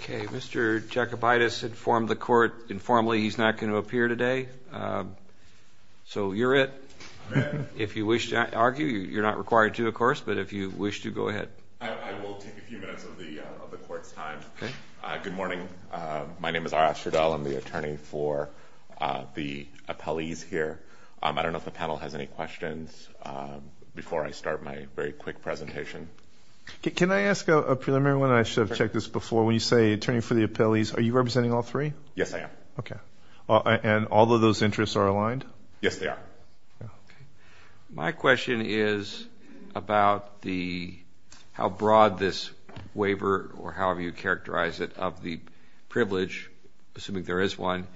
Okay, Mr. Jakubaitis informed the court informally he's not going to appear today, so you're it. If you wish to argue, you're not required to, of course, but if you wish to, go ahead. I will take a few minutes of the court's time. Good morning. My name is Arash Ardal. I'm the attorney for the appellees here. I don't know if the panel has any questions before I start my very quick presentation. Can I ask a preliminary one? I should have checked this before. When you say attorney for the appellees, are you representing all three? Yes, I am. Okay. And all of those interests are aligned? Yes, they are. Okay. My question is about how broad this waiver, or however you characterize it, of the privilege, assuming there is one,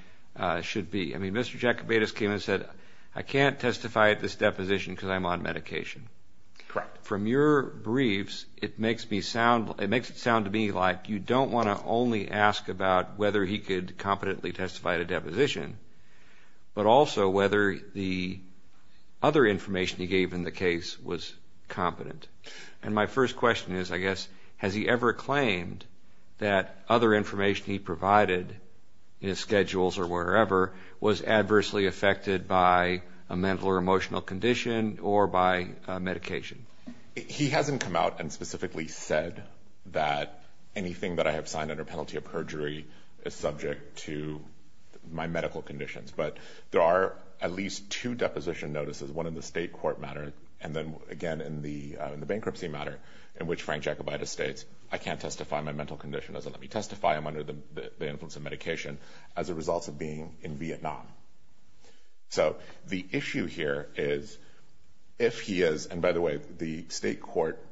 should be. I mean, Mr. Jakubaitis came and said, I can't testify at this deposition because I'm on medication. Correct. From your briefs, it makes it sound to me like you don't want to only ask about whether he could competently testify at a other information he gave in the case was competent. And my first question is, I guess, has he ever claimed that other information he provided in his schedules or wherever was adversely affected by a mental or emotional condition or by medication? He hasn't come out and specifically said that anything that I have signed under penalty of perjury is subject to my medical conditions. But there are at least two deposition notices, one in the state court matter and then, again, in the bankruptcy matter, in which Frank Jakubaitis states, I can't testify. My mental condition doesn't let me testify. I'm under the influence of medication as a result of being in Vietnam. So the issue here is if he is – and, by the way, the state court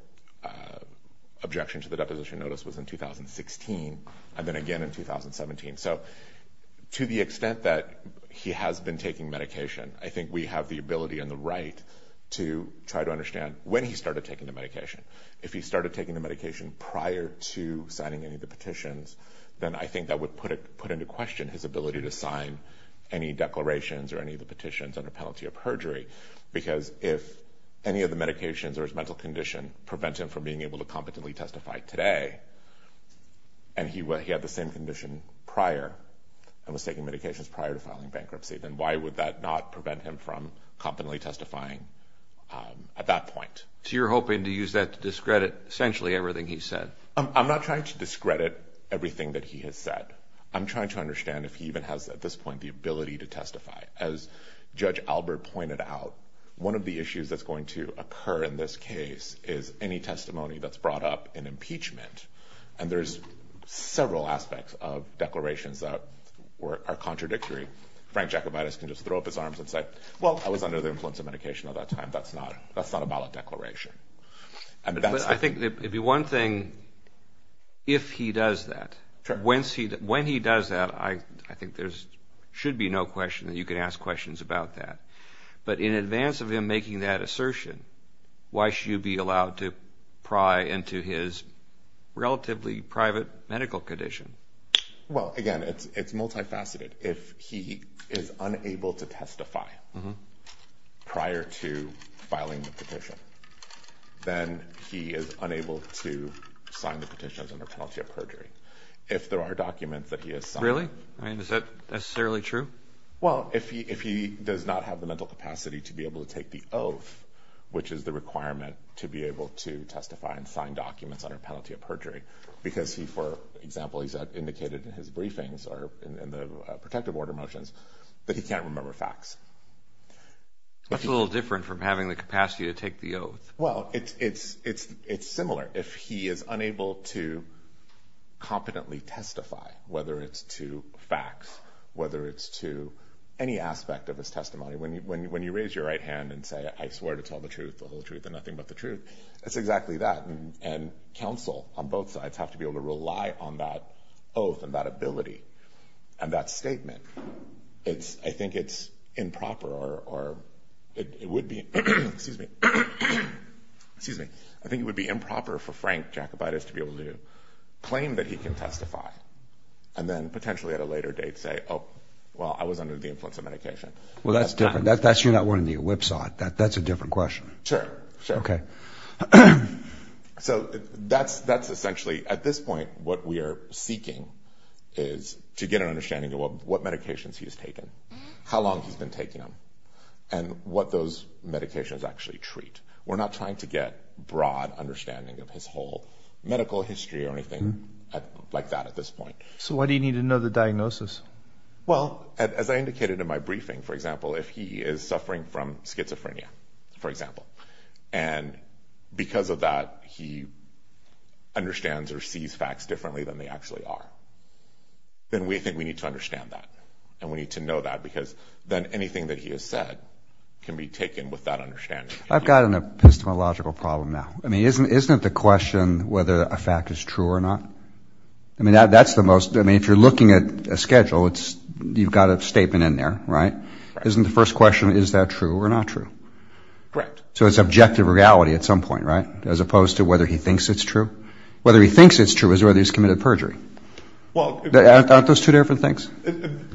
objection to the deposition notice was in 2016 and then again in 2017. So to the extent that he has been taking medication, I think we have the ability and the right to try to understand when he started taking the medication. If he started taking the medication prior to signing any of the petitions, then I think that would put into question his ability to sign any declarations or any of the petitions under penalty of perjury because if any of the medications or his taking medications prior to filing bankruptcy, then why would that not prevent him from confidently testifying at that point? So you're hoping to use that to discredit essentially everything he's said? I'm not trying to discredit everything that he has said. I'm trying to understand if he even has at this point the ability to testify. As Judge Albert pointed out, one of the issues that's going to occur in this case is any testimony that's brought up in that are contradictory. Frank Jacobitis can just throw up his arms and say, well, I was under the influence of medication at that time. That's not a ballot declaration. I think it would be one thing if he does that. When he does that, I think there should be no question that you can ask questions about that. But in advance of him making that assertion, why should you be allowed to pry into his relatively private medical condition? Well, again, it's multifaceted. If he is unable to testify prior to filing the petition, then he is unable to sign the petition as under penalty of perjury. If there are documents that he has signed. Really? Is that necessarily true? Well, if he does not have the mental capacity to be able to take the oath, which is the requirement to be able to testify and sign documents under penalty of perjury, because he, for example, he's indicated in his briefings or in the protective order motions that he can't remember facts. That's a little different from having the capacity to take the oath. Well, it's similar. If he is unable to competently testify, whether it's to facts, whether it's to any aspect of his testimony, when you raise your right hand and say, I swear to tell the truth, the whole truth and nothing but the truth, that's exactly that. And counsel on both sides have to be able to rely on that oath and that ability and that statement. I think it's improper or it would be. Excuse me. Excuse me. I think it would be improper for Frank Jacobitis to be able to claim that he can testify and then potentially at a later date say, oh, well, I was under the influence of medication. Well, that's different. That's you're not wearing the whipsaw. That's a different question. Sure. OK. So that's that's essentially at this point. What we are seeking is to get an understanding of what medications he has taken, how long he's been taking them and what those medications actually treat. We're not trying to get broad understanding of his whole medical history or anything like that at this point. So what do you need to know the diagnosis? Well, as I indicated in my briefing, for example, if he is suffering from schizophrenia, for example, and because of that, he understands or sees facts differently than they actually are. Then we think we need to understand that and we need to know that because then anything that he has said can be taken with that understanding. I've got an epistemological problem now. I mean, isn't isn't it the question whether a fact is true or not? I mean, that's the most I mean, if you're looking at a schedule, it's you've got a statement in there, right? Isn't the first question, is that true or not true? Correct. So it's objective reality at some point, right? As opposed to whether he thinks it's true. Whether he thinks it's true is whether he's committed perjury. Well, aren't those two different things?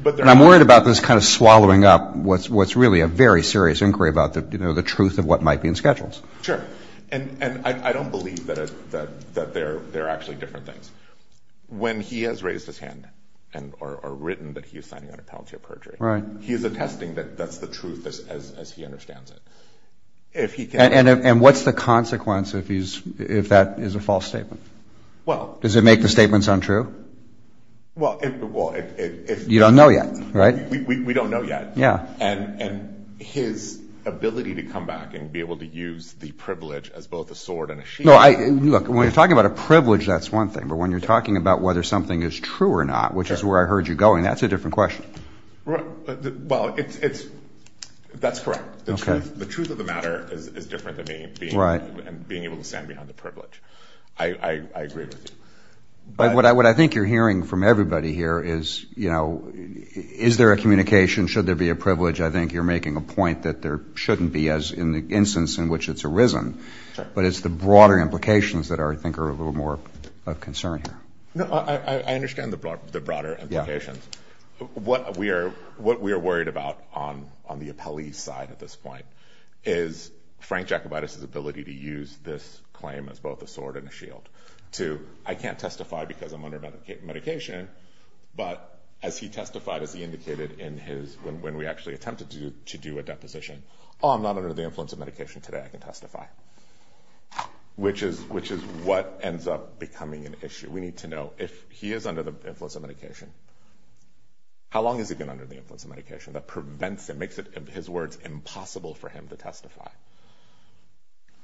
But I'm worried about this kind of swallowing up what's what's really a very serious inquiry about the truth of what might be in schedules. Sure. And I don't believe that there are actually different things. When he has raised his hand and are written that he is signing on a penalty of perjury. He is attesting that that's the truth as he understands it. And what's the consequence if he's if that is a false statement? Well, does it make the statements untrue? Well, if you don't know yet, right? We don't know yet. And his ability to come back and be able to use the privilege as both a sword and a shield. Look, when you're talking about a privilege, that's one thing. But when you're talking about whether something is true or not, which is where I heard you going, that's a different question. Well, that's correct. The truth of the matter is different than being able to stand behind the privilege. I agree with you. But what I think you're hearing from everybody here is, you know, is there a communication? Should there be a privilege? I think you're making a point that there shouldn't be as in the instance in which it's arisen. But it's the broader implications that I think are a little more of concern here. I understand the broader implications. What we are worried about on the appellee's side at this point is Frank Jacobitis' ability to use this claim as both a sword and a shield. To, I can't testify because I'm under medication. But as he testified, as he indicated in his, when we actually attempted to do a deposition, oh, I'm not under the influence of medication today, I can testify. Which is what ends up becoming an issue. We need to know if he is under the influence of medication, how long has he been under the influence of medication? That prevents him, makes it, in his words, impossible for him to testify.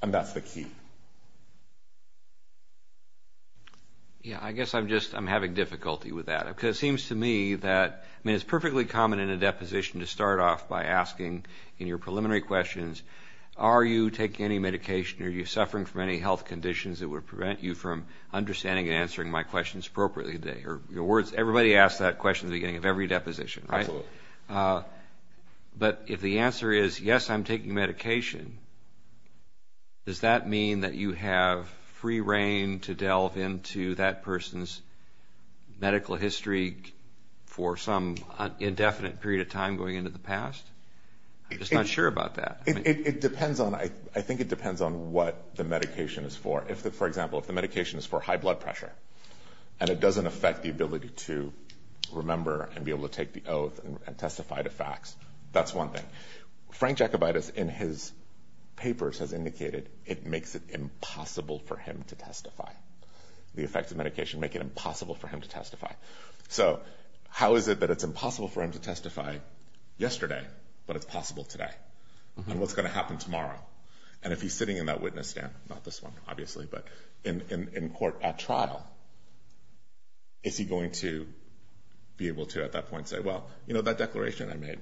And that's the key. Yeah, I guess I'm just, I'm having difficulty with that. Because it seems to me that, I mean, it's perfectly common in a deposition to start off by asking in your preliminary questions, are you taking any medication? Are you suffering from any health conditions that would prevent you from understanding and answering my questions appropriately today? Or your words, everybody asks that question at the beginning of every deposition, right? Absolutely. But if the answer is, yes, I'm taking medication, does that mean that you have free reign to delve into that person's medical history for some indefinite period of time going into the past? I'm just not sure about that. It depends on, I think it depends on what the medication is for. If, for example, if the medication is for high blood pressure, and it doesn't affect the ability to remember and be able to take the oath and testify to facts, that's one thing. Frank Jacobitis, in his papers, has indicated it makes it impossible for him to testify. The effects of medication make it impossible for him to testify. So how is it that it's impossible for him to testify yesterday, but it's possible today? And what's going to happen tomorrow? And if he's sitting in that witness stand, not this one, obviously, but in court at trial, is he going to be able to, at that point, say, well, you know, that declaration I made,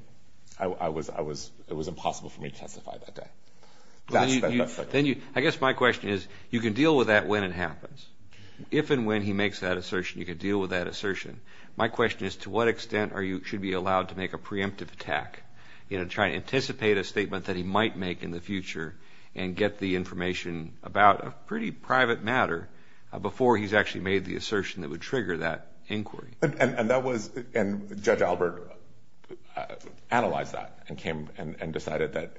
it was impossible for me to testify that day? I guess my question is, you can deal with that when it happens. If and when he makes that assertion, you can deal with that assertion. My question is, to what extent should he be allowed to make a preemptive attack, you know, try to anticipate a statement that he might make in the future and get the information about a pretty private matter before he's actually made the assertion that would trigger that inquiry? And Judge Albert analyzed that and came and decided that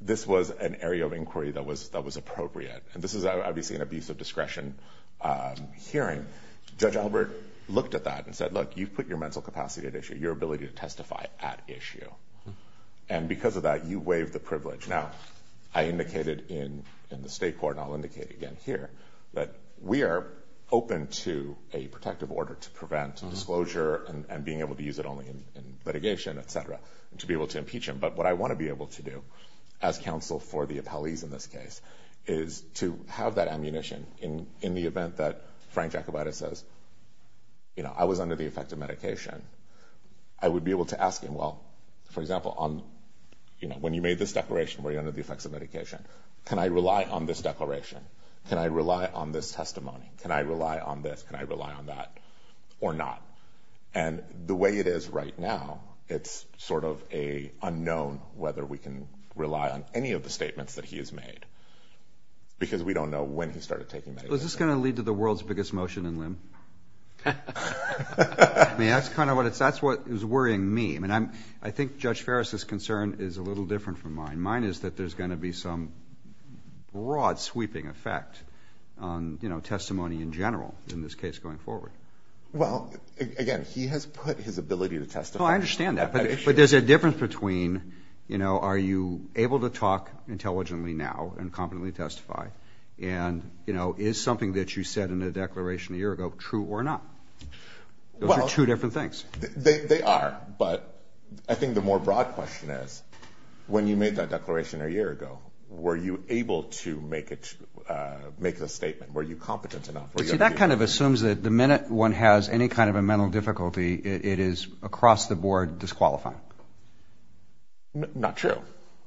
this was an area of inquiry that was appropriate. And this is obviously an abuse of discretion hearing. Judge Albert looked at that and said, look, you've put your mental capacity at issue, your ability to testify at issue. And because of that, you waive the privilege. Now, I indicated in the state court, and I'll indicate again here, that we are open to a protective order to prevent disclosure and being able to use it only in litigation, et cetera, to be able to impeach him. But what I want to be able to do as counsel for the appellees in this case is to have that ammunition in the event that Frank Jacobitis says, you know, I was under the effect of medication, I would be able to ask him, well, for example, when you made this declaration, were you under the effects of medication? Can I rely on this declaration? Can I rely on this testimony? Can I rely on this? Can I rely on that? Or not? And the way it is right now, it's sort of unknown whether we can rely on any of the statements that he has made, because we don't know when he started taking medication. Well, is this going to lead to the world's biggest motion in limb? I mean, that's kind of what is worrying me. I mean, I think Judge Ferris' concern is a little different from mine. Mine is that there's going to be some broad sweeping effect on testimony in general in this case going forward. Well, again, he has put his ability to testify. No, I understand that. But there's a difference between, you know, are you able to talk intelligently now and competently testify? And, you know, is something that you said in the declaration a year ago true or not? Those are two different things. They are. But I think the more broad question is, when you made that declaration a year ago, were you able to make a statement? Were you competent enough? See, that kind of assumes that the minute one has any kind of a mental difficulty, it is across the board disqualifying. Not true.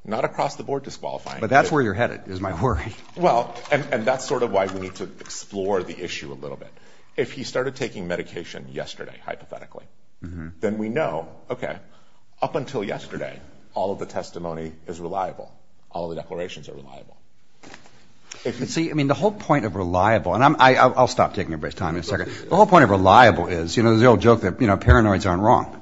Not across the board disqualifying. But that's where you're headed, is my worry. Well, and that's sort of why we need to explore the issue a little bit. If he started taking medication yesterday, hypothetically, then we know, okay, up until yesterday, all of the testimony is reliable. All of the declarations are reliable. See, I mean, the whole point of reliable, and I'll stop taking everybody's time in a second. The whole point of reliable is, you know, there's the old joke that, you know, paranoids aren't wrong.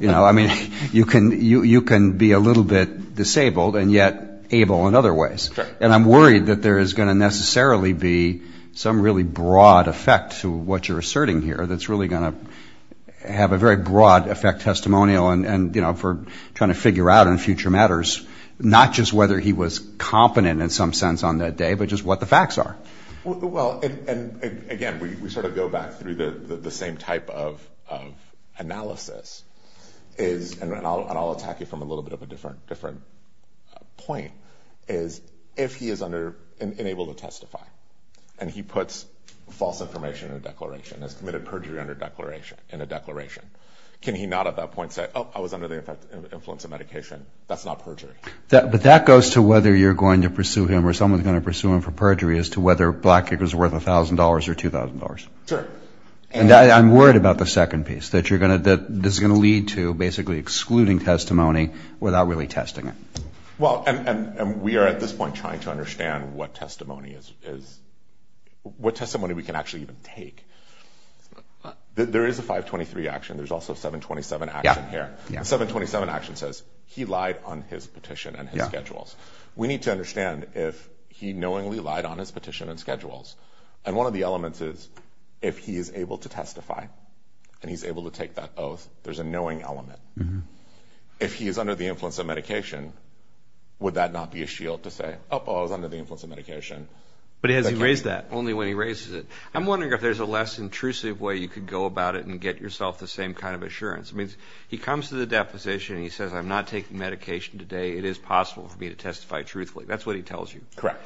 You know, I mean, you can be a little bit disabled and yet able in other ways. And I'm worried that there is going to necessarily be some really broad effect to what you're asserting here that's really going to have a very broad effect testimonial and, you know, for trying to figure out in future matters, not just whether he was competent in some sense on that day, but just what the facts are. Well, and again, we sort of go back through the same type of analysis, and I'll attack you from a little bit of a different point, is if he is unable to testify and he puts false information in a declaration, has committed perjury in a declaration, can he not at that point say, oh, I was under the influence of medication? That's not perjury. But that goes to whether you're going to pursue him or someone's going to pursue him for perjury as to whether Blackacre's worth $1,000 or $2,000. Sure. And I'm worried about the second piece, that this is going to lead to basically excluding testimony without really testing it. Well, and we are at this point trying to understand what testimony we can actually even take. There is a 523 action. There's also a 727 action here. The 727 action says he lied on his petition and his schedules. We need to understand if he knowingly lied on his petition and schedules. And one of the elements is if he is able to testify and he's able to take that oath, there's a knowing element. If he is under the influence of medication, would that not be a shield to say, oh, I was under the influence of medication? But has he raised that only when he raises it? I'm wondering if there's a less intrusive way you could go about it and get yourself the same kind of assurance. I mean, he comes to the deposition and he says, I'm not taking medication today. It is possible for me to testify truthfully. That's what he tells you. Correct.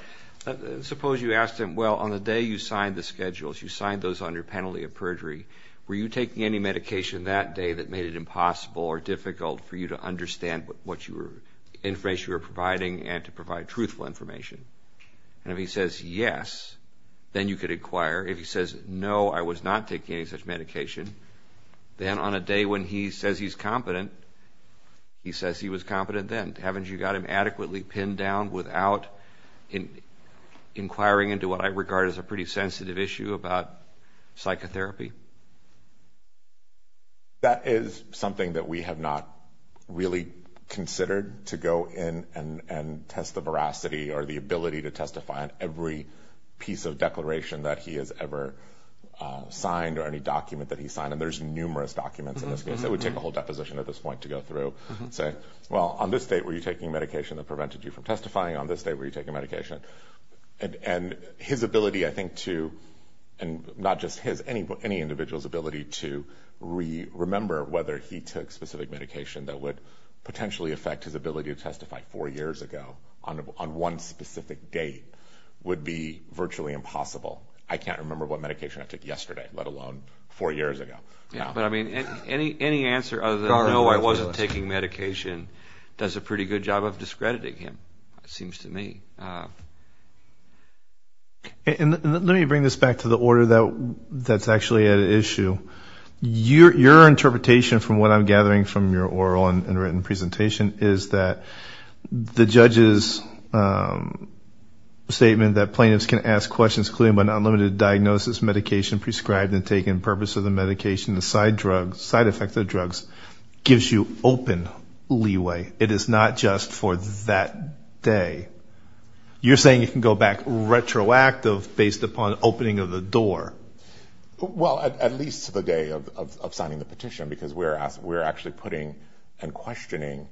Suppose you asked him, well, on the day you signed the schedules, you signed those on your penalty of perjury, were you taking any medication that day that made it impossible or difficult for you to understand what information you were providing and to provide truthful information? And if he says yes, then you could inquire. If he says, no, I was not taking any such medication, then on a day when he says he's competent, he says he was competent then. Haven't you got him adequately pinned down without inquiring into what I regard as a pretty sensitive issue about psychotherapy? That is something that we have not really considered to go in and test the veracity or the ability to testify on every piece of declaration that he has ever signed or any document that he's signed. And there's numerous documents in this case. It would take a whole deposition at this point to go through and say, well, on this date were you taking medication that prevented you from testifying, on this date were you taking medication? And his ability, I think, to, and not just his, any individual's ability to remember whether he took specific medication that would potentially affect his ability to testify four years ago on one specific date would be virtually impossible. I can't remember what medication I took yesterday, let alone four years ago. But, I mean, any answer other than no, I wasn't taking medication does a pretty good job of discrediting him, it seems to me. And let me bring this back to the order that's actually at issue. Your interpretation, from what I'm gathering from your oral and written presentation, is that the judge's statement that plaintiffs can ask questions, including but not limited to diagnosis, medication prescribed and taken, purpose of the medication, the side effects of drugs, gives you open leeway. It is not just for that day. You're saying you can go back retroactive based upon opening of the door. Well, at least to the day of signing the petition, because we're actually putting and questioning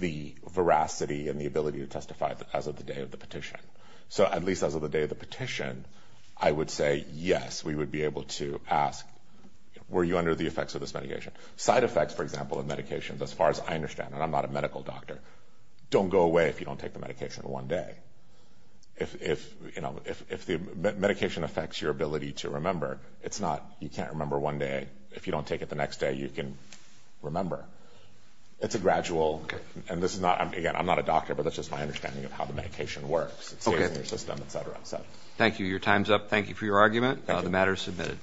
the veracity and the ability to testify as of the day of the petition. So at least as of the day of the petition, I would say, yes, we would be able to ask, were you under the effects of this medication? Side effects, for example, of medications, as far as I understand, and I'm not a medical doctor, don't go away if you don't take the medication one day. If the medication affects your ability to remember, it's not you can't remember one day. If you don't take it the next day, you can remember. It's a gradual, and this is not, again, I'm not a doctor, but that's just my understanding of how the medication works, it stays in your system, et cetera. Thank you. Your time's up. Thank you for your argument. The matter is submitted.